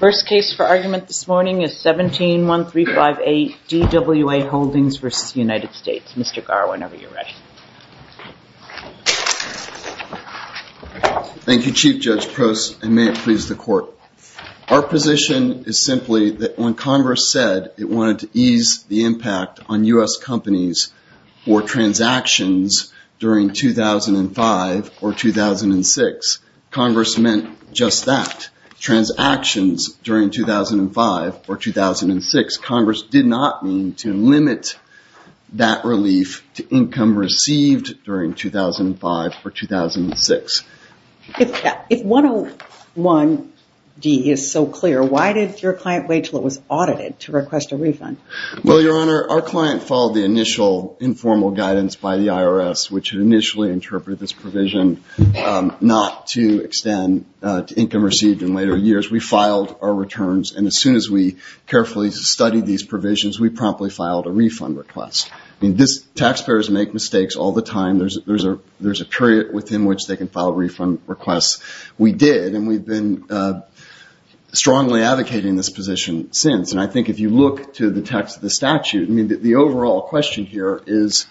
First case for argument this morning is 171358 DWA Holdings v. United States. Mr. Garr whenever you're ready. Thank you Chief Judge Prost and may it please the court. Our position is simply that when Congress said it wanted to ease the impact on U.S. companies for transactions during 2005 or 2006, Congress meant just that. Transactions during 2005 or 2006, Congress did not mean to limit that relief to income received during 2005 or 2006. If 101D is so clear why did your client wait till it was audited to request a refund? Well Your Honor our client followed the initial informal guidance by the IRS which income received in later years. We filed our returns and as soon as we carefully studied these provisions we promptly filed a refund request. Taxpayers make mistakes all the time. There's a period within which they can file a refund request. We did and we've been strongly advocating this position since and I think if you look to the text of the statute, the overall question here is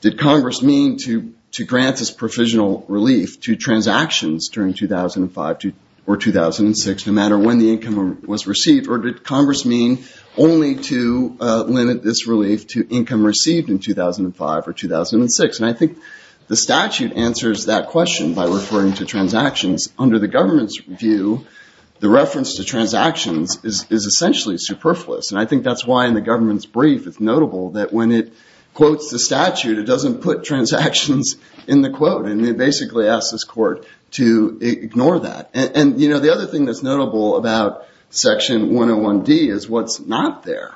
did Congress mean to grant this provisional relief to transactions during 2005 or 2006 no matter when the income was received or did Congress mean only to limit this relief to income received in 2005 or 2006 and I think the statute answers that question by referring to transactions. Under the government's view the reference to transactions is essentially superfluous and I think that's why in the government's brief it's notable that when it quotes the statute it doesn't put transactions in the quote and it basically asks this and you know the other thing that's notable about section 101 D is what's not there.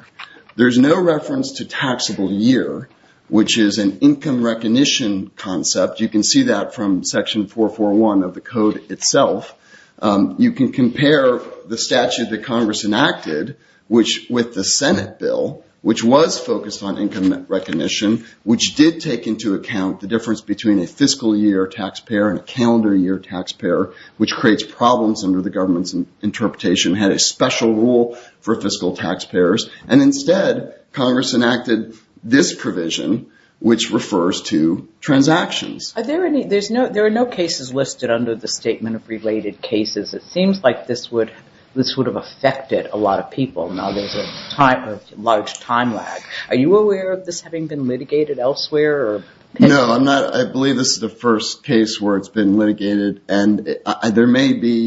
There's no reference to taxable year which is an income recognition concept. You can see that from section 441 of the code itself. You can compare the statute that Congress enacted which with the Senate bill which was focused on income recognition which did take into account the difference between a fiscal year taxpayer and a calendar year taxpayer which creates problems under the government's interpretation had a special rule for fiscal taxpayers and instead Congress enacted this provision which refers to transactions. Are there any there's no there are no cases listed under the statement of related cases it seems like this would this would have affected a lot of people now there's a time of large time lag. Are you aware of this having been litigated elsewhere? No I'm not I believe this is the first case where it's been litigated and there may be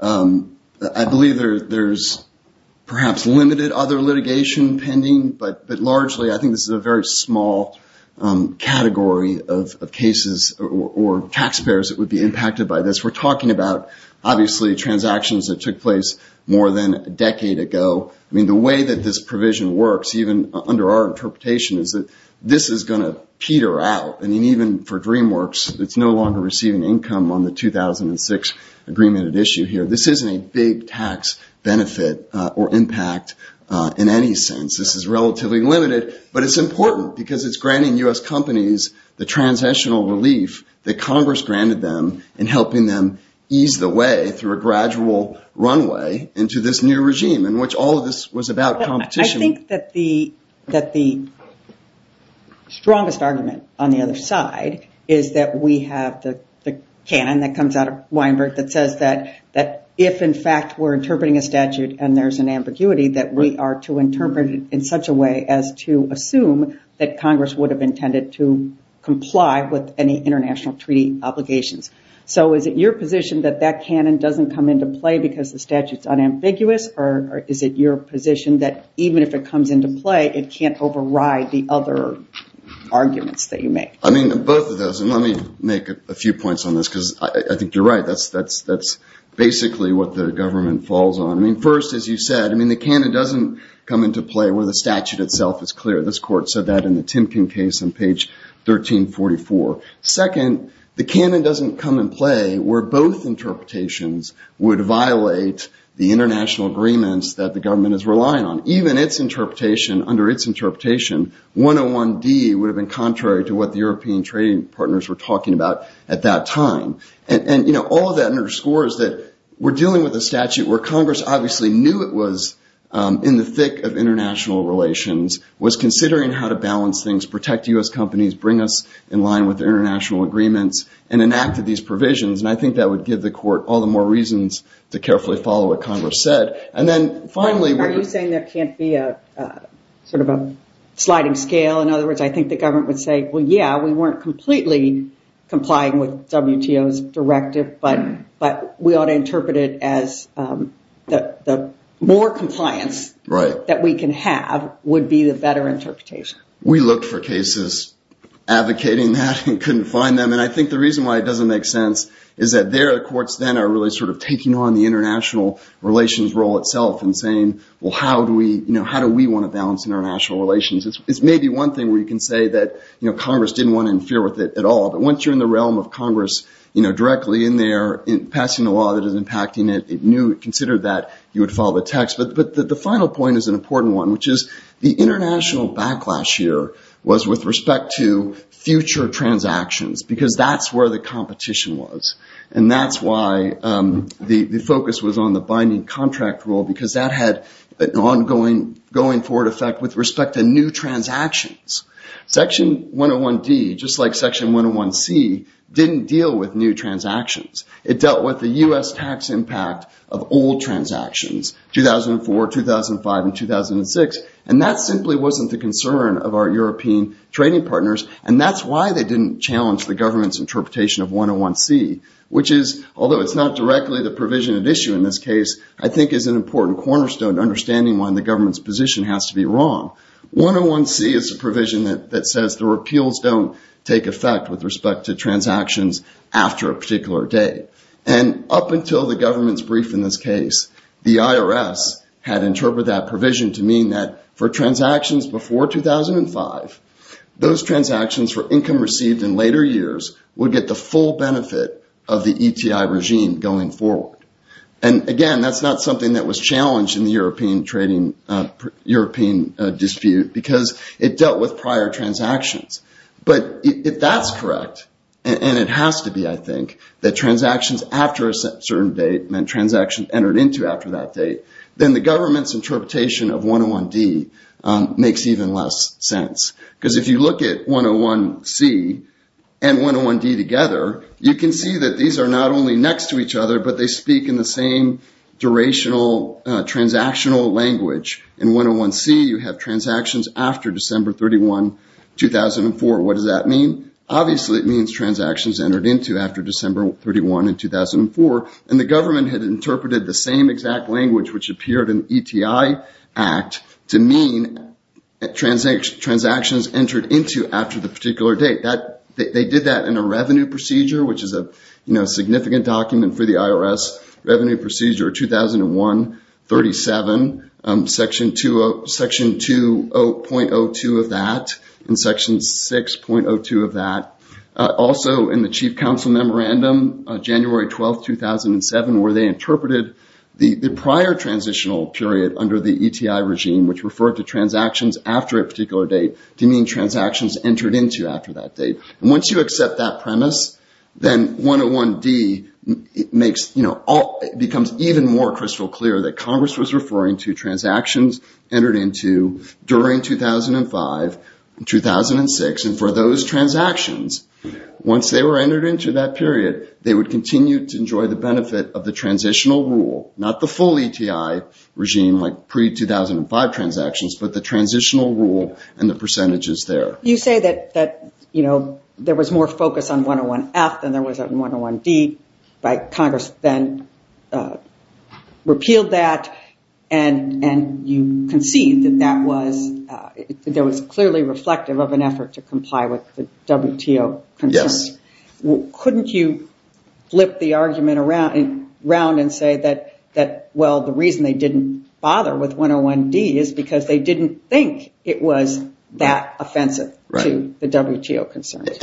I believe there's perhaps limited other litigation pending but but largely I think this is a very small category of cases or taxpayers that would be impacted by this. We're talking about obviously transactions that took place more than a decade ago. I mean the way that this provision works even under our interpretation is that this is going to peter out and even for DreamWorks it's no longer receiving income on the 2006 agreement at issue here this isn't a big tax benefit or impact in any sense this is relatively limited but it's important because it's granting US companies the transitional relief that Congress granted them in helping them ease the way through a gradual runway into this new regime in which all of this was about competition. I think that the that the strongest argument on the other side is that we have the canon that comes out of Weinberg that says that that if in fact we're interpreting a statute and there's an ambiguity that we are to interpret it in such a way as to assume that Congress would have intended to comply with any international treaty obligations. So is it your position that that canon doesn't come into play because the statutes unambiguous or is it your position that even if it comes into play it can't override the other arguments that you make? I mean both of those and let me make a few points on this because I think you're right that's that's that's basically what the government falls on. I mean first as you said I mean the canon doesn't come into play where the statute itself is clear this court said that in the Timken case on page 1344. Second the canon doesn't come in play where both interpretations would violate the international agreements that the government is relying on. Even its interpretation under its interpretation 101 D would have been contrary to what the European trading partners were talking about at that time. And you know all of that underscores that we're dealing with a statute where Congress obviously knew it was in the thick of international relations was considering how to balance things protect US companies bring us in line with international agreements and enacted these provisions and I think that would give the court all the more reasons to carefully follow what Congress said. And then finally are you saying that can't be a sort of a sliding scale in other words I think the government would say well yeah we weren't completely complying with WTO's directive but but we ought to interpret it as that the more compliance right that we can have would be the better interpretation. We looked for cases advocating that and couldn't find them and I think the reason why it doesn't make sense is that their courts then are really sort of taking on the international relations role itself and saying well how do we you know how do we want to balance international relations. It's maybe one thing where you can say that you know Congress didn't want to interfere with it at all but once you're in the realm of Congress you know directly in there in passing the law that is impacting it it knew it considered that you would follow the text but but the final point is an important one which is the international backlash here was with respect to future transactions because that's where the competition was and that's why the focus was on the binding contract rule because that had an ongoing going forward effect with respect to new transactions. Section 101 D just like section 101 C didn't deal with new transactions. It dealt with the US tax impact of old transactions 2004 2005 and 2006 and that simply wasn't the concern of our European trading partners and that's why they didn't challenge the government's interpretation of 101 C which is although it's not directly the provision at issue in this case I think is an important cornerstone understanding when the government's position has to be wrong. 101 C is a provision that says the repeals don't take effect with respect to transactions after a particular day and up until the to mean that for transactions before 2005 those transactions for income received in later years would get the full benefit of the ETI regime going forward and again that's not something that was challenged in the European trading European dispute because it dealt with prior transactions but if that's correct and it has to be I think that transactions after a certain date meant transaction entered into after that date then the government's 101 D makes even less sense because if you look at 101 C and 101 D together you can see that these are not only next to each other but they speak in the same durational transactional language and 101 C you have transactions after December 31 2004 what does that mean? Obviously it means transactions entered into after December 31 in 2004 and the government had interpreted the same exact language which appeared in ETI Act to mean transactions entered into after the particular date that they did that in a revenue procedure which is a you know significant document for the IRS revenue procedure 2001-37 section 20.02 of that in section 6.02 of that also in the Chief Counsel memorandum January 12 2007 where they interpreted the prior transitional period under the ETI regime which referred to transactions after a particular date to mean transactions entered into after that date. Once you accept that premise then 101 D makes you know all becomes even more crystal clear that Congress was referring to transactions entered into during 2005-2006 and for those transactions once they were entered into that period they would continue to enjoy the benefit of the transitional rule not the full ETI regime like pre-2005 transactions but the transitional rule and the percentages there. You say that that you know there was more focus on 101 F than there was a 101 D by Congress then repealed that and and you concede that that was there was clearly reflective of an effort to comply with the WTO concerns. Yes. Couldn't you flip the round and say that that well the reason they didn't bother with 101 D is because they didn't think it was that offensive to the WTO concerns.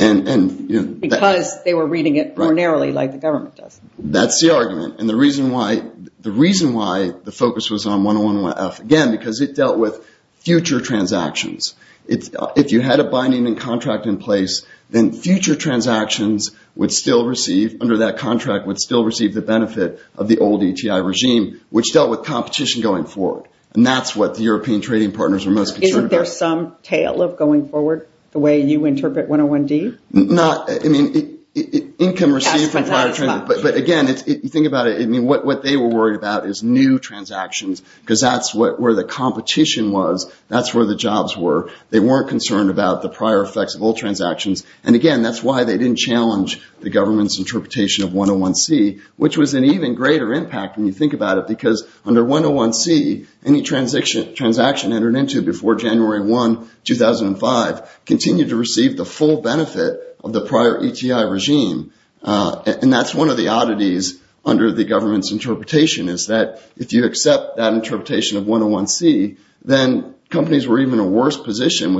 Because they were reading it more narrowly like the government does. That's the argument and the reason why the reason why the focus was on 101 F again because it dealt with future transactions it's if you had a binding and contract in place then future transactions would still receive under that contract would still receive the benefit of the old ETI regime which dealt with competition going forward and that's what the European trading partners are most concerned about. Isn't there some tale of going forward the way you interpret 101 D? Not I mean income received from prior transactions but again if you think about it I mean what what they were worried about is new transactions because that's what where the competition was that's where the jobs were they weren't concerned about the prior effects of old transactions and again that's why they didn't challenge the government's interpretation of 101 C which was an even greater impact when you think about it because under 101 C any transaction transaction entered into before January 1 2005 continued to receive the full benefit of the prior ETI regime and that's one of the oddities under the government's interpretation is that if you accept that interpretation of 101 C then companies were even a worse position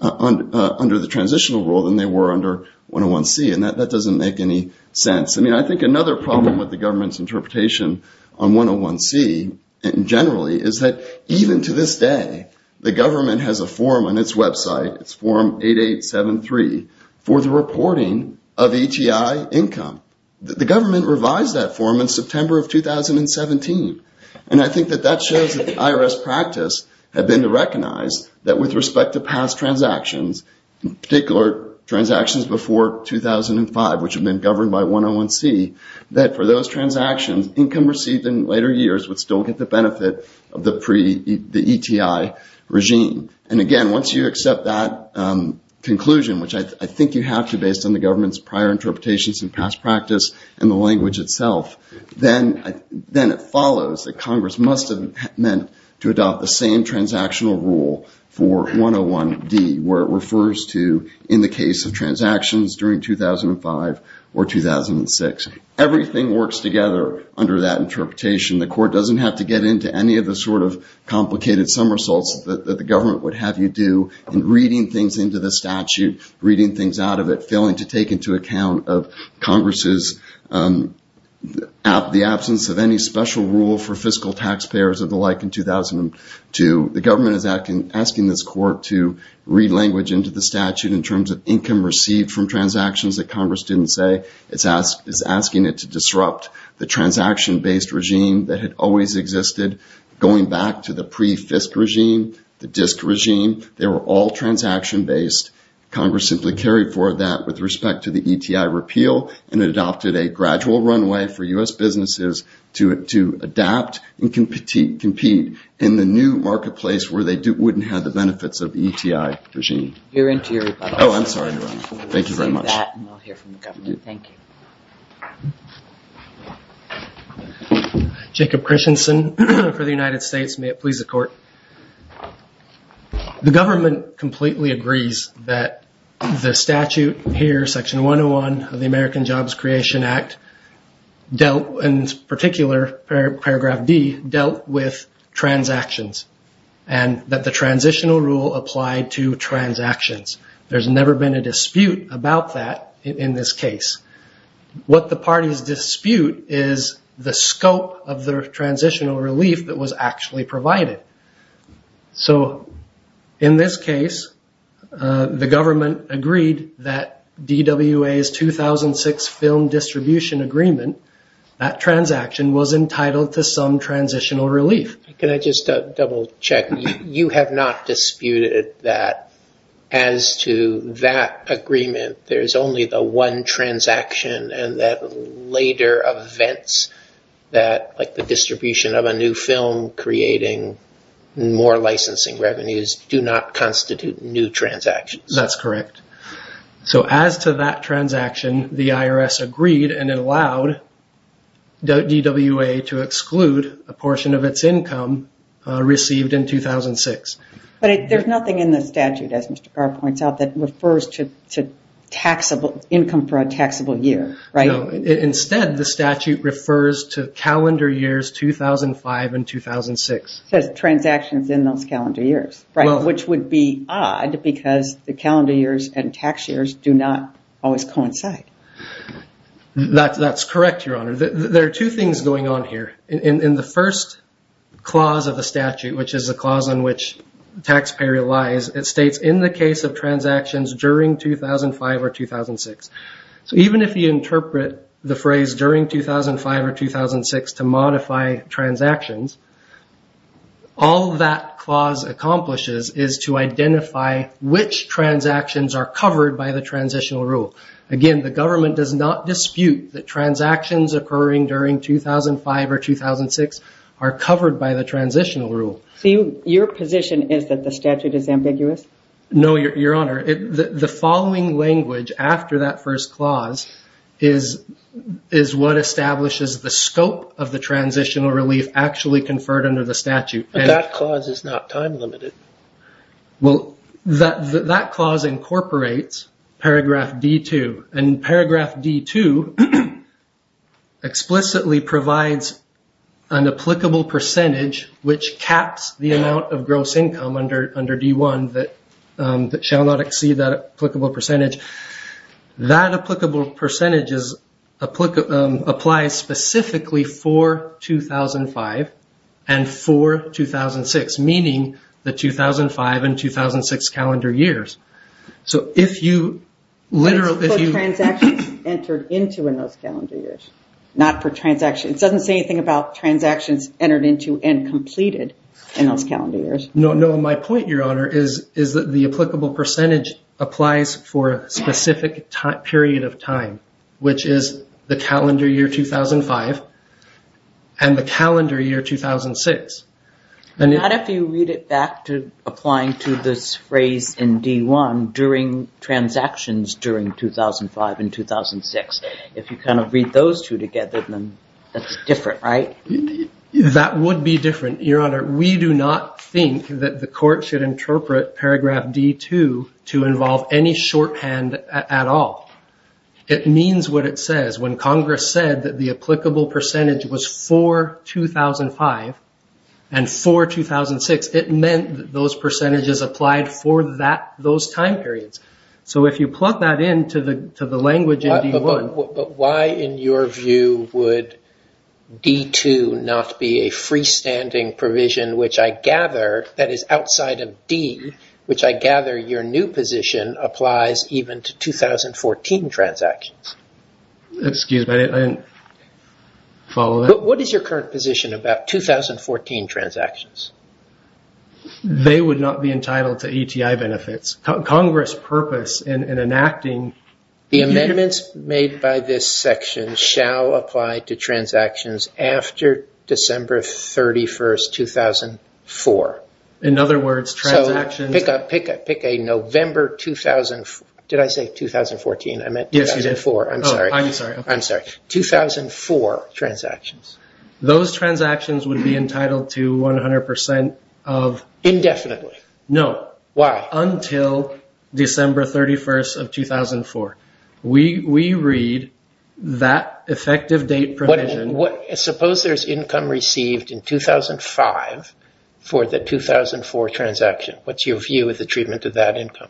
under the transitional rule than they were under 101 C and that doesn't make any sense I mean I think another problem with the government's interpretation on 101 C generally is that even to this day the government has a form on its website it's form 8873 for the reporting of ETI income. The government revised that form in September of 2017 and I think that that shows that the IRS practice have been to recognize that with respect to past transactions in particular transactions before 2005 which have been governed by 101 C that for those transactions income received in later years would still get the benefit of the pre the ETI regime and again once you accept that conclusion which I think you have to based on the government's prior interpretations and past practice and the language itself then it follows that Congress must have meant to adopt the same transactional rule for 101 D where it refers to in the case of transactions during 2005 or 2006 everything works together under that interpretation the court doesn't have to get into any of the sort of complicated somersaults that the government would have you do in reading things into the statute reading things out of it failing to take into account of Congress's the absence of any special rule for fiscal taxpayers of the like in 2002 the government is asking this court to read language into the statute in terms of income received from transactions that Congress didn't say it's asking it to disrupt the transaction based regime that had always existed going back to the pre Fisk regime the disk regime they were all transaction based Congress simply carried for that with respect to the ETI repeal and adopted a gradual runway for to adapt and compete compete in the new marketplace where they do wouldn't have the benefits of the ETI regime your interior oh I'm sorry thank you very much Jacob Christensen for the United States may it please the court the government completely agrees that the statute here section 101 of the American Jobs Creation Act dealt in particular paragraph D dealt with transactions and that the transitional rule applied to transactions there's never been a dispute about that in this case what the party's dispute is the scope of the transitional relief that was actually provided so in this case the government agreed that DWA is 2006 film distribution agreement that transaction was entitled to some transitional relief can I just double-check you have not disputed that as to that agreement there's only the one transaction and that later events that like the distribution of a new film creating more licensing revenues do not constitute new transactions that's correct so as to that transaction the IRS agreed and it allowed the DWA to exclude a portion of its income received in 2006 but there's nothing in the statute as mr. Carr points out that refers to taxable income for a taxable year right instead the statute refers to calendar years 2005 and 2006 says transactions in those calendar years right which would be odd because the calendar years and tax years do not always coincide that's that's correct your honor there are two things going on here in the first clause of the statute which is a clause on which taxpayer relies it states in the case of 2006 so even if you interpret the phrase during 2005 or 2006 to modify transactions all that clause accomplishes is to identify which transactions are covered by the transitional rule again the government does not dispute the transactions occurring during 2005 or 2006 are covered by the transitional rule your position is that the statute is after that first clause is is what establishes the scope of the transitional relief actually conferred under the statute that clause is not time-limited well that that clause incorporates paragraph d2 and paragraph d2 explicitly provides an applicable percentage which caps the amount of gross income under under d1 that that shall not exceed that applicable percentage that applicable percentages apply apply specifically for 2005 and for 2006 meaning the 2005 and 2006 calendar years so if you literally transactions entered into in those calendar years not for transaction it doesn't say anything about transactions entered into and completed in those calendar years no no my point your honor is is that the applicable percentage for a specific time period of time which is the calendar year 2005 and the calendar year 2006 and if you read it back to applying to this phrase in d1 during transactions during 2005 and 2006 if you kind of read those two together then that's different right that would be different your honor we do not think that the court should interpret paragraph d2 to involve any shorthand at all it means what it says when Congress said that the applicable percentage was for 2005 and for 2006 it meant those percentages applied for that those time periods so if you plug that into the to the language but why in your view would d2 not be a freestanding provision which I gather that is outside of D which I gather your new position applies even to 2014 transactions excuse me I didn't follow what is your current position about 2014 transactions they would not be entitled to ETI benefits Congress purpose in enacting the apply to transactions after December 31st 2004 in other words transaction pick up pick up pick a November 2004 did I say 2014 I meant yes you did for I'm sorry I'm sorry I'm sorry 2004 transactions those transactions would be entitled to 100% of indefinitely no why until December 31st of 2004 we we read that effective date provision what suppose there's income received in 2005 for the 2004 transaction what's your view with the treatment of that income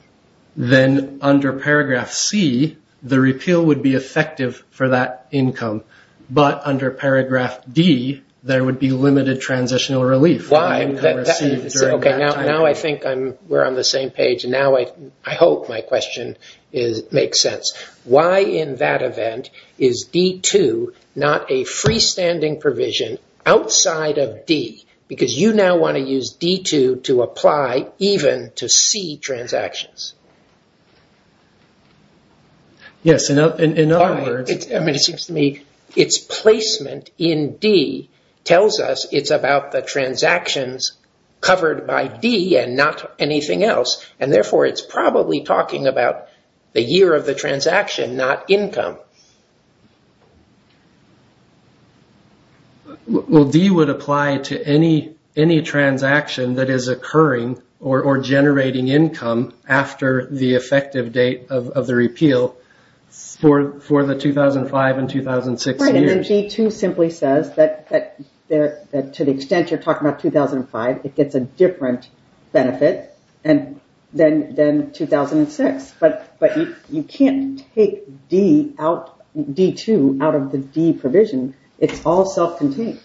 then under paragraph C the repeal would be effective for that income but under paragraph D there would be limited transitional relief why okay now now I think I'm we're on the same page and now I I hope my question is makes sense why in that event is d2 not a freestanding provision outside of D because you now want to use d2 to apply even to C transactions yes enough in other words it's I mean it seems to me its placement in D tells us it's about the transactions covered by D and not anything else and therefore it's probably talking about the year of the transaction not income well D would apply to any any transaction that is occurring or generating income after the effective date of the repeal for for the 2005 and 2006 energy to simply says that that there to the extent you're talking about 2005 it gets a different benefit and then then 2006 but but you can't take D out d2 out of the D provision it's all self-contained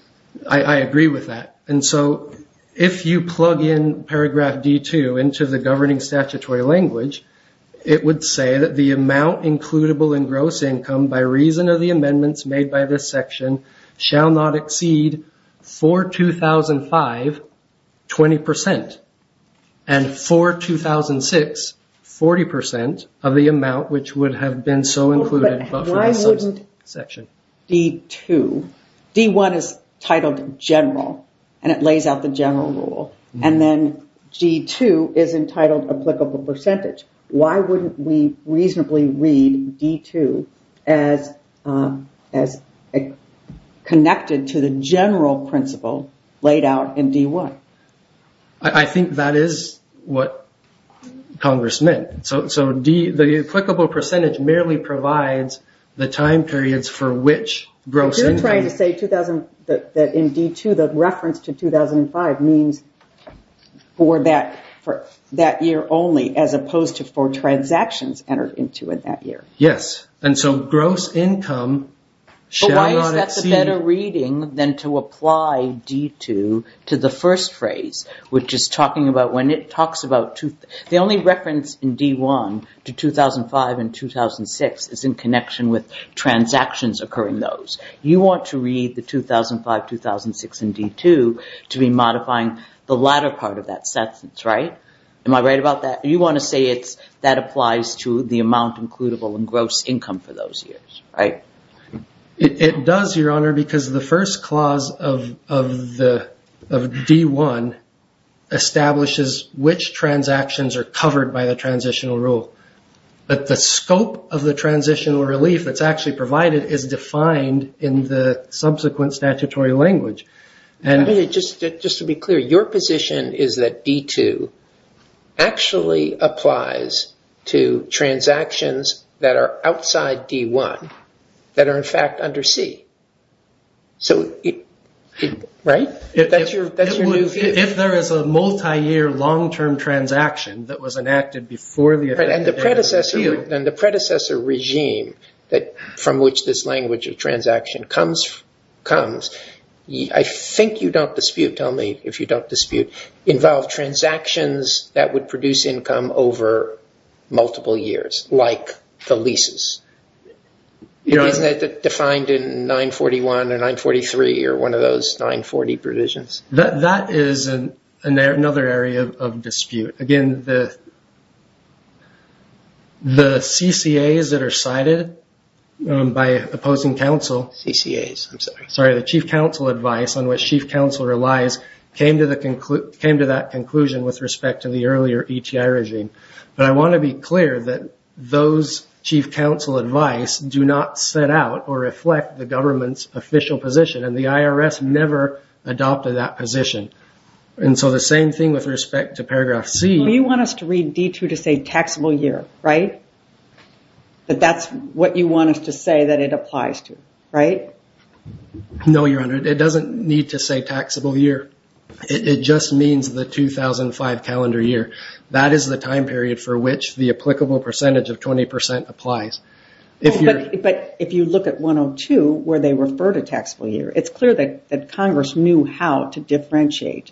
I agree with that and so if you plug in paragraph d2 into the governing statutory language it would say that the amount includable in gross income by reason of the amendments made by this section shall not exceed for 2005 20% and for 2006 40% of the amount which would have been so included section d2 d1 is titled general and it lays out the general rule and then g2 is entitled applicable percentage why wouldn't we reasonably read d2 as as connected to the general principle laid out in d1 I think that is what Congress meant so so D the applicable percentage merely provides the time periods for which gross and trying to say 2000 that indeed to the reference to 2005 means for that for that year only as opposed to for transactions entered into in that year yes and so gross income better reading than to apply d2 to the first phrase which is talking about when it talks about to the only reference in d1 to 2005 and 2006 is in connection with transactions occurring those you want to read the 2005 2006 and d2 to be modifying the latter part of that sentence right am I right about that you want to say it's that applies to the amount includable and gross income for those years right it does your honor because the first clause of the d1 establishes which transactions are covered by the transitional rule but the scope of the transitional relief that's actually provided is defined in the subsequent statutory language and it just to be clear your position is that d2 actually applies to transactions that are outside d1 that are in fact under C so right if there is a multi-year long-term transaction that was enacted before the event and the predecessor then the predecessor regime that from which this language of transaction comes I think you don't dispute tell me if you don't dispute involve transactions that would produce income over multiple years like the leases you know is that defined in 941 or 943 or one of those 940 provisions that that is an another area again the the CCA is that are cited by opposing counsel sorry the chief counsel advice on what she counsel relies came to the conclude came to that conclusion with respect to the earlier ETI regime but I want to be clear that those chief counsel advice do not set out or reflect the government's official position and the IRS never adopted that position and so the same thing with respect to paragraph C you want us to read d2 to say taxable year right but that's what you want to say that it applies to right no your honor it doesn't need to say taxable year it just means the 2005 calendar year that is the time period for which the applicable percentage of 20% applies if you're but if you look at where they refer to taxable year it's clear that that Congress knew how to differentiate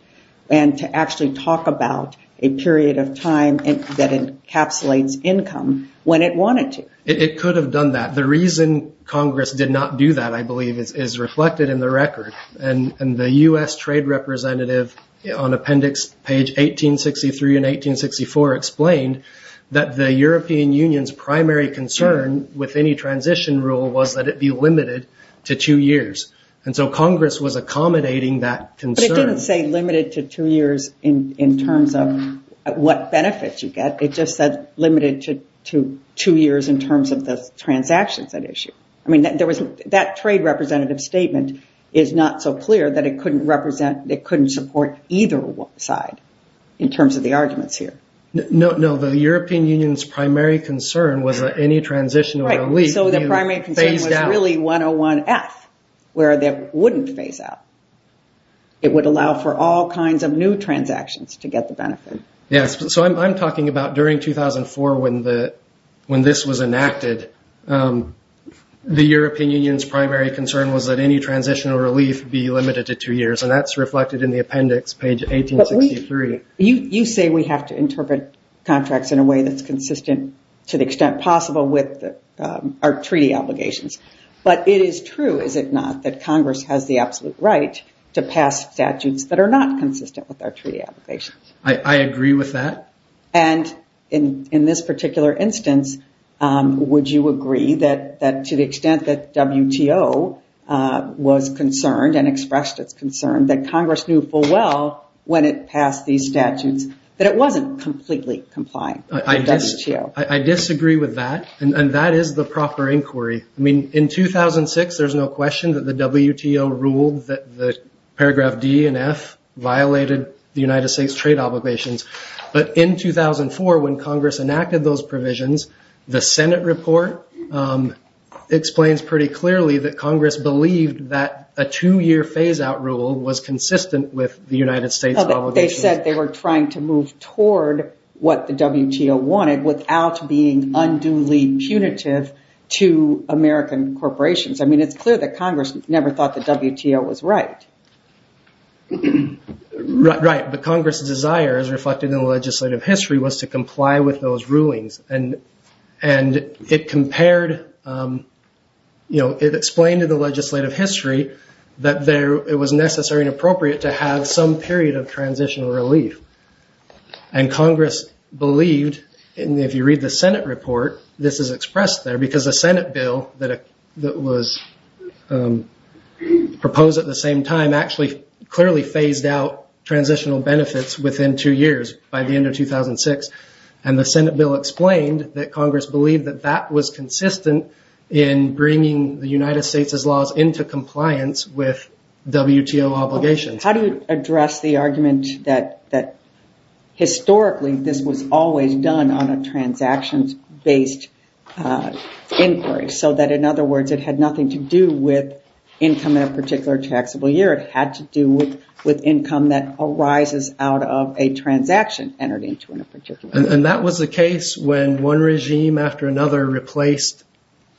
and to actually talk about a period of time and that encapsulates income when it wanted to it could have done that the reason Congress did not do that I believe is reflected in the record and and the US trade representative on appendix page 1863 and 1864 explained that the European Union's primary concern with any transition rule was that it be limited to two years and so Congress was accommodating that concern say limited to two years in in terms of what benefits you get it just said limited to two years in terms of the transactions that issue I mean that there was that trade representative statement is not so clear that it couldn't represent it couldn't support either one side in terms of the arguments here no no the concern was that any transition so the primary concern really 101 F where that wouldn't phase out it would allow for all kinds of new transactions to get the benefit yes so I'm talking about during 2004 when the when this was enacted the European Union's primary concern was that any transitional relief be limited to two years and that's reflected in the appendix page 1863 you say we have to the extent possible with our treaty obligations but it is true is it not that Congress has the absolute right to pass statutes that are not consistent with our treaty obligations I agree with that and in in this particular instance would you agree that that to the extent that WTO was concerned and expressed its concern that Congress knew full well when it passed these statutes that it disagree with that and that is the proper inquiry I mean in 2006 there's no question that the WTO ruled that the paragraph D and F violated the United States trade obligations but in 2004 when Congress enacted those provisions the Senate report explains pretty clearly that Congress believed that a two-year phase-out rule was consistent with the United States they said they were trying to move toward what the WTO wanted without being unduly punitive to American corporations I mean it's clear that Congress never thought the WTO was right right but Congress desires reflected in the legislative history was to comply with those rulings and and it compared you know it explained in the legislative history that there it was necessary and appropriate to have some period of transitional relief and Congress believed and if you read the Senate report this is expressed there because the Senate bill that it was proposed at the same time actually clearly phased out transitional benefits within two years by the end of 2006 and the Senate bill explained that Congress believed that that was consistent in bringing the United States as laws into compliance with WTO obligations how do you address the argument that that historically this was always done on a transactions based inquiry so that in other words it had nothing to do with income in a particular taxable year it had to do with with income that arises out of a transaction entered into in a particular and that was the case when one regime after another replaced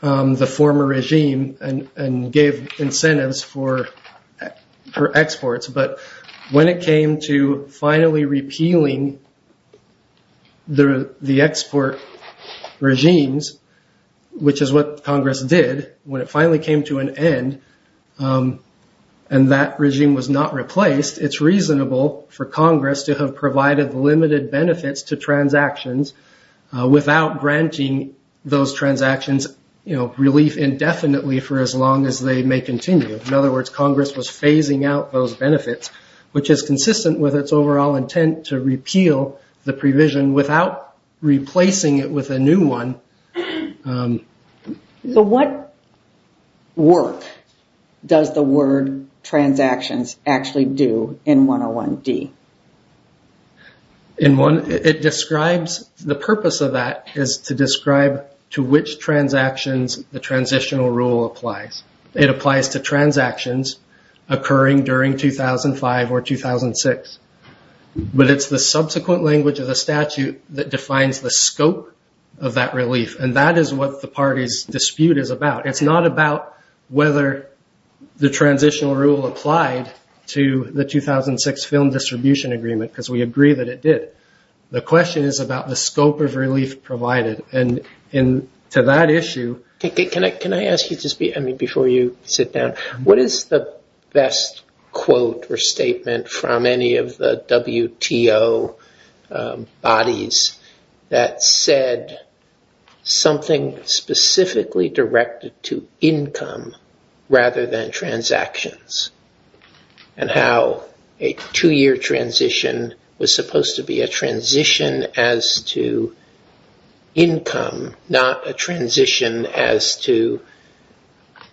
the former regime and and gave incentives for her exports but when it came to finally repealing the the export regimes which is what Congress did when it finally came to an end and that regime was not replaced it's reasonable for Congress to have provided limited benefits to transactions without granting those transactions you know relief indefinitely for as long as they may continue in other words Congress was phasing out those benefits which is consistent with its overall intent to repeal the provision without replacing it with a new one. So what work does the word transactions actually do in 101d? It describes the purpose of that is to describe to which transactions the transitional rule applies it applies to transactions occurring during 2005 or 2006 but it's the subsequent language of the statute that defines the scope of that relief and that is what the party's about it's not about whether the transitional rule applied to the 2006 film distribution agreement because we agree that it did the question is about the scope of relief provided and in to that issue. Can I ask you just be I mean before you sit down what is the best quote or statement from any of the to income rather than transactions and how a two-year transition was supposed to be a transition as to income not a transition as to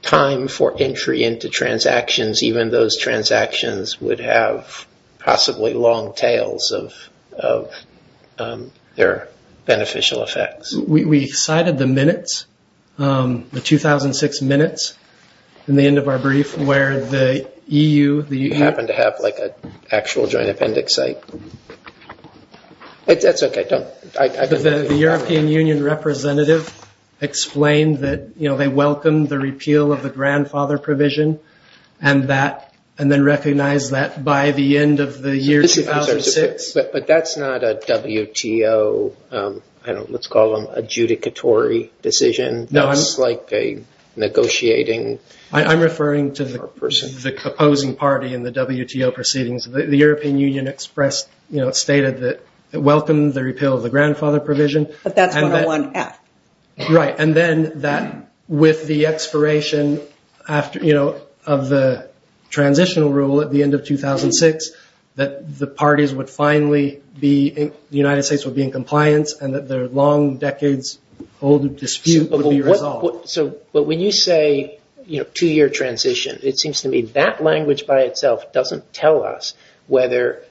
time for entry into transactions even those transactions would have possibly long tails of their 2006 minutes in the end of our brief where the EU you happen to have like a actual joint appendix site it's okay don't the European Union representative explained that you know they welcomed the repeal of the grandfather provision and that and then recognize that by the end of the year 2006 but that's not a judicatory decision no it's like a negotiating I'm referring to the person the opposing party in the WTO proceedings the European Union expressed you know stated that welcomed the repeal of the grandfather provision but that's right and then that with the expiration after you know of the transitional rule at the end of 2006 that the parties would finally be the United States would be in compliance and that their long decades old dispute so but when you say you know to your transition it seems to me that language by itself doesn't tell us whether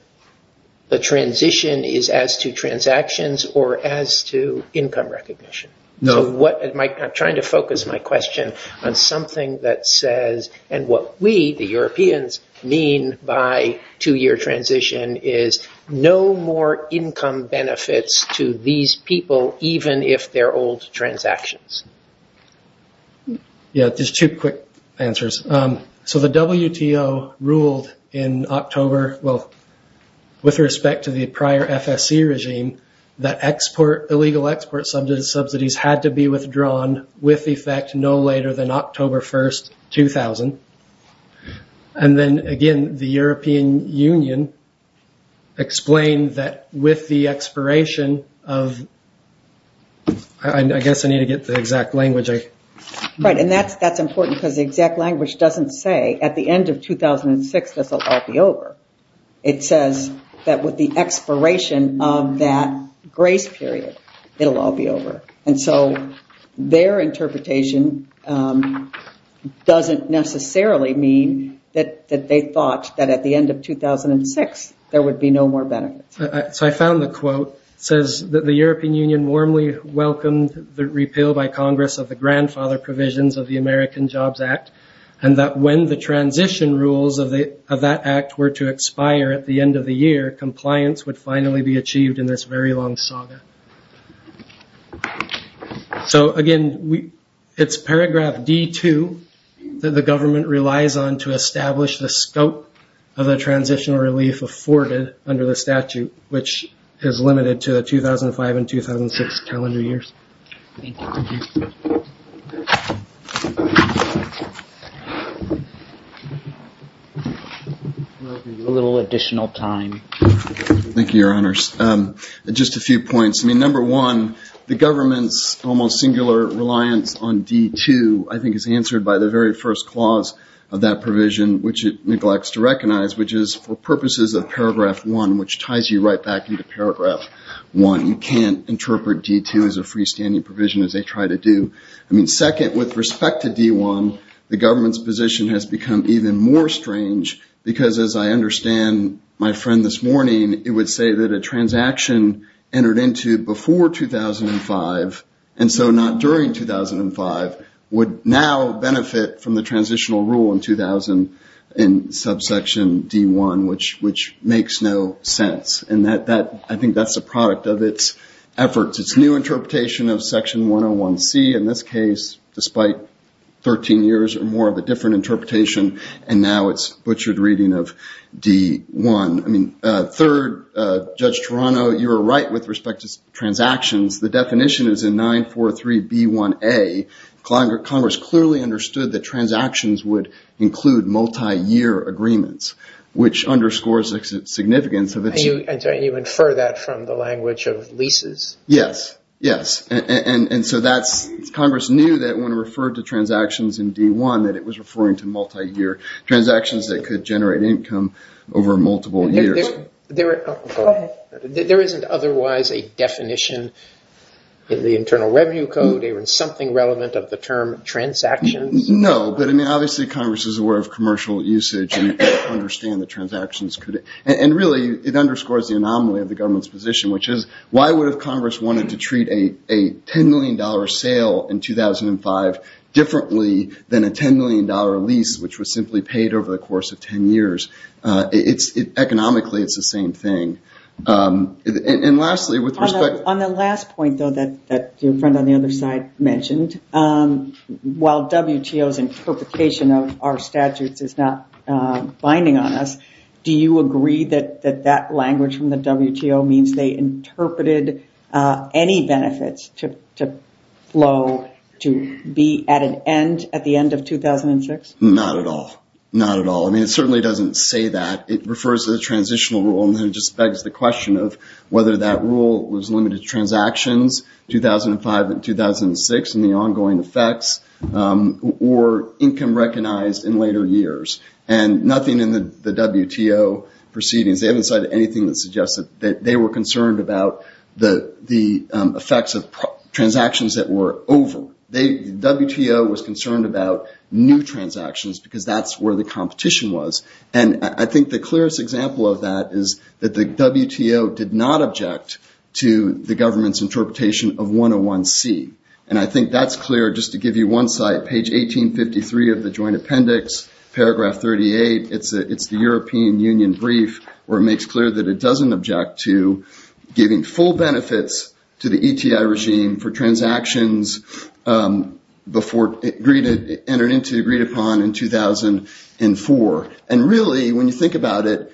the transition is as to transactions or as to income recognition no what am I trying to focus my question on something that says and what we the these people even if they're old transactions yeah there's two quick answers so the WTO ruled in October well with respect to the prior FSC regime that export illegal export subsidies had to be withdrawn with effect no later than October 1st 2000 and then again the European Union explained that with the expiration of I guess I need to get the exact language I right and that's that's important because the exact language doesn't say at the end of 2006 this will all be over it says that with the expiration of that grace period it will all be over and so their interpretation doesn't necessarily mean that that they thought that at the end of 2006 there would be no more benefits so I found the quote says that the European Union warmly welcomed the repeal by Congress of the grandfather provisions of the American Jobs Act and that when the transition rules of the of that act were to expire at the end of the year compliance would finally be achieved in this very long saga so again we it's paragraph d2 that the government relies on to establish the scope of the relief afforded under the statute which is limited to 2005 and 2006 calendar years a little additional time thank you your honors just a few points I mean number one the government's almost singular reliance on d2 I think is answered by the very first clause of that provision which it neglects to purposes of paragraph one which ties you right back into paragraph one you can't interpret d2 as a freestanding provision as they try to do I mean second with respect to d1 the government's position has become even more strange because as I understand my friend this morning it would say that a transaction entered into before 2005 and so not during 2005 would now benefit from the transitional rule in 2000 in subsection d1 which which makes no sense and that that I think that's a product of its efforts its new interpretation of section 101 C in this case despite 13 years or more of a different interpretation and now it's butchered reading of d1 I mean third judge Toronto you're right with respect to transactions the definition is in 943 b1a Congress clearly understood that transactions would include multi-year agreements which underscores its significance of it so you infer that from the language of leases yes yes and and so that's Congress knew that when referred to transactions in d1 that it was referring to multi-year transactions that could generate income over multiple years there isn't otherwise a definition in the Internal Revenue Code or in something relevant of the term transactions no but I mean obviously Congress is aware of commercial usage and understand the transactions could and really it underscores the anomaly of the government's position which is why would have Congress wanted to treat a a ten million dollar sale in 2005 differently than a ten million dollar lease which was simply paid over the course of ten years it's economically it's the same thing and lastly with respect on the last point though that that your friend on the other side mentioned while WTO's interpretation of our statutes is not binding on us do you agree that that that language from the WTO means they interpreted any benefits to flow to be at an end at the end of 2006 not at all not at all I mean it certainly doesn't say that it refers to transitional rule and it just begs the question of whether that rule was limited to transactions 2005 and 2006 and the ongoing effects or income recognized in later years and nothing in the the WTO proceedings they haven't said anything that suggests that they were concerned about the the effects of transactions that were over they WTO was concerned about new transactions because that's where the competition was and I think the clearest example of that is that the WTO did not object to the government's interpretation of 101 C and I think that's clear just to give you one site page 1853 of the Joint Appendix paragraph 38 it's it's the European Union brief where it makes clear that it doesn't object to giving full benefits to the ETI regime for 2004 and really when you think about it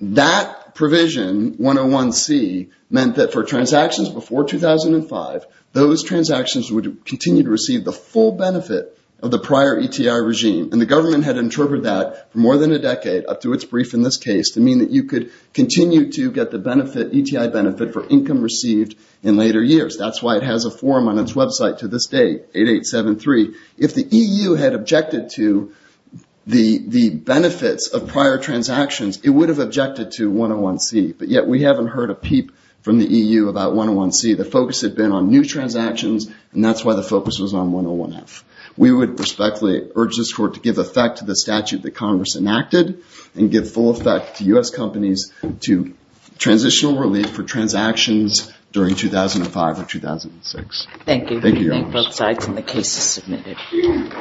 that provision 101 C meant that for transactions before 2005 those transactions would continue to receive the full benefit of the prior ETI regime and the government had interpreted that for more than a decade up to its brief in this case to mean that you could continue to get the benefit ETI benefit for income received in later years that's why it has a forum on its website to this date 8 8 7 3 if the EU had objected to the the benefits of prior transactions it would have objected to 101 C but yet we haven't heard a peep from the EU about 101 C the focus had been on new transactions and that's why the focus was on 101 F we would respectfully urge this court to give effect to the statute that Congress enacted and give full effect to US companies to transitional relief for 2006 thank you both sides and the case is submitted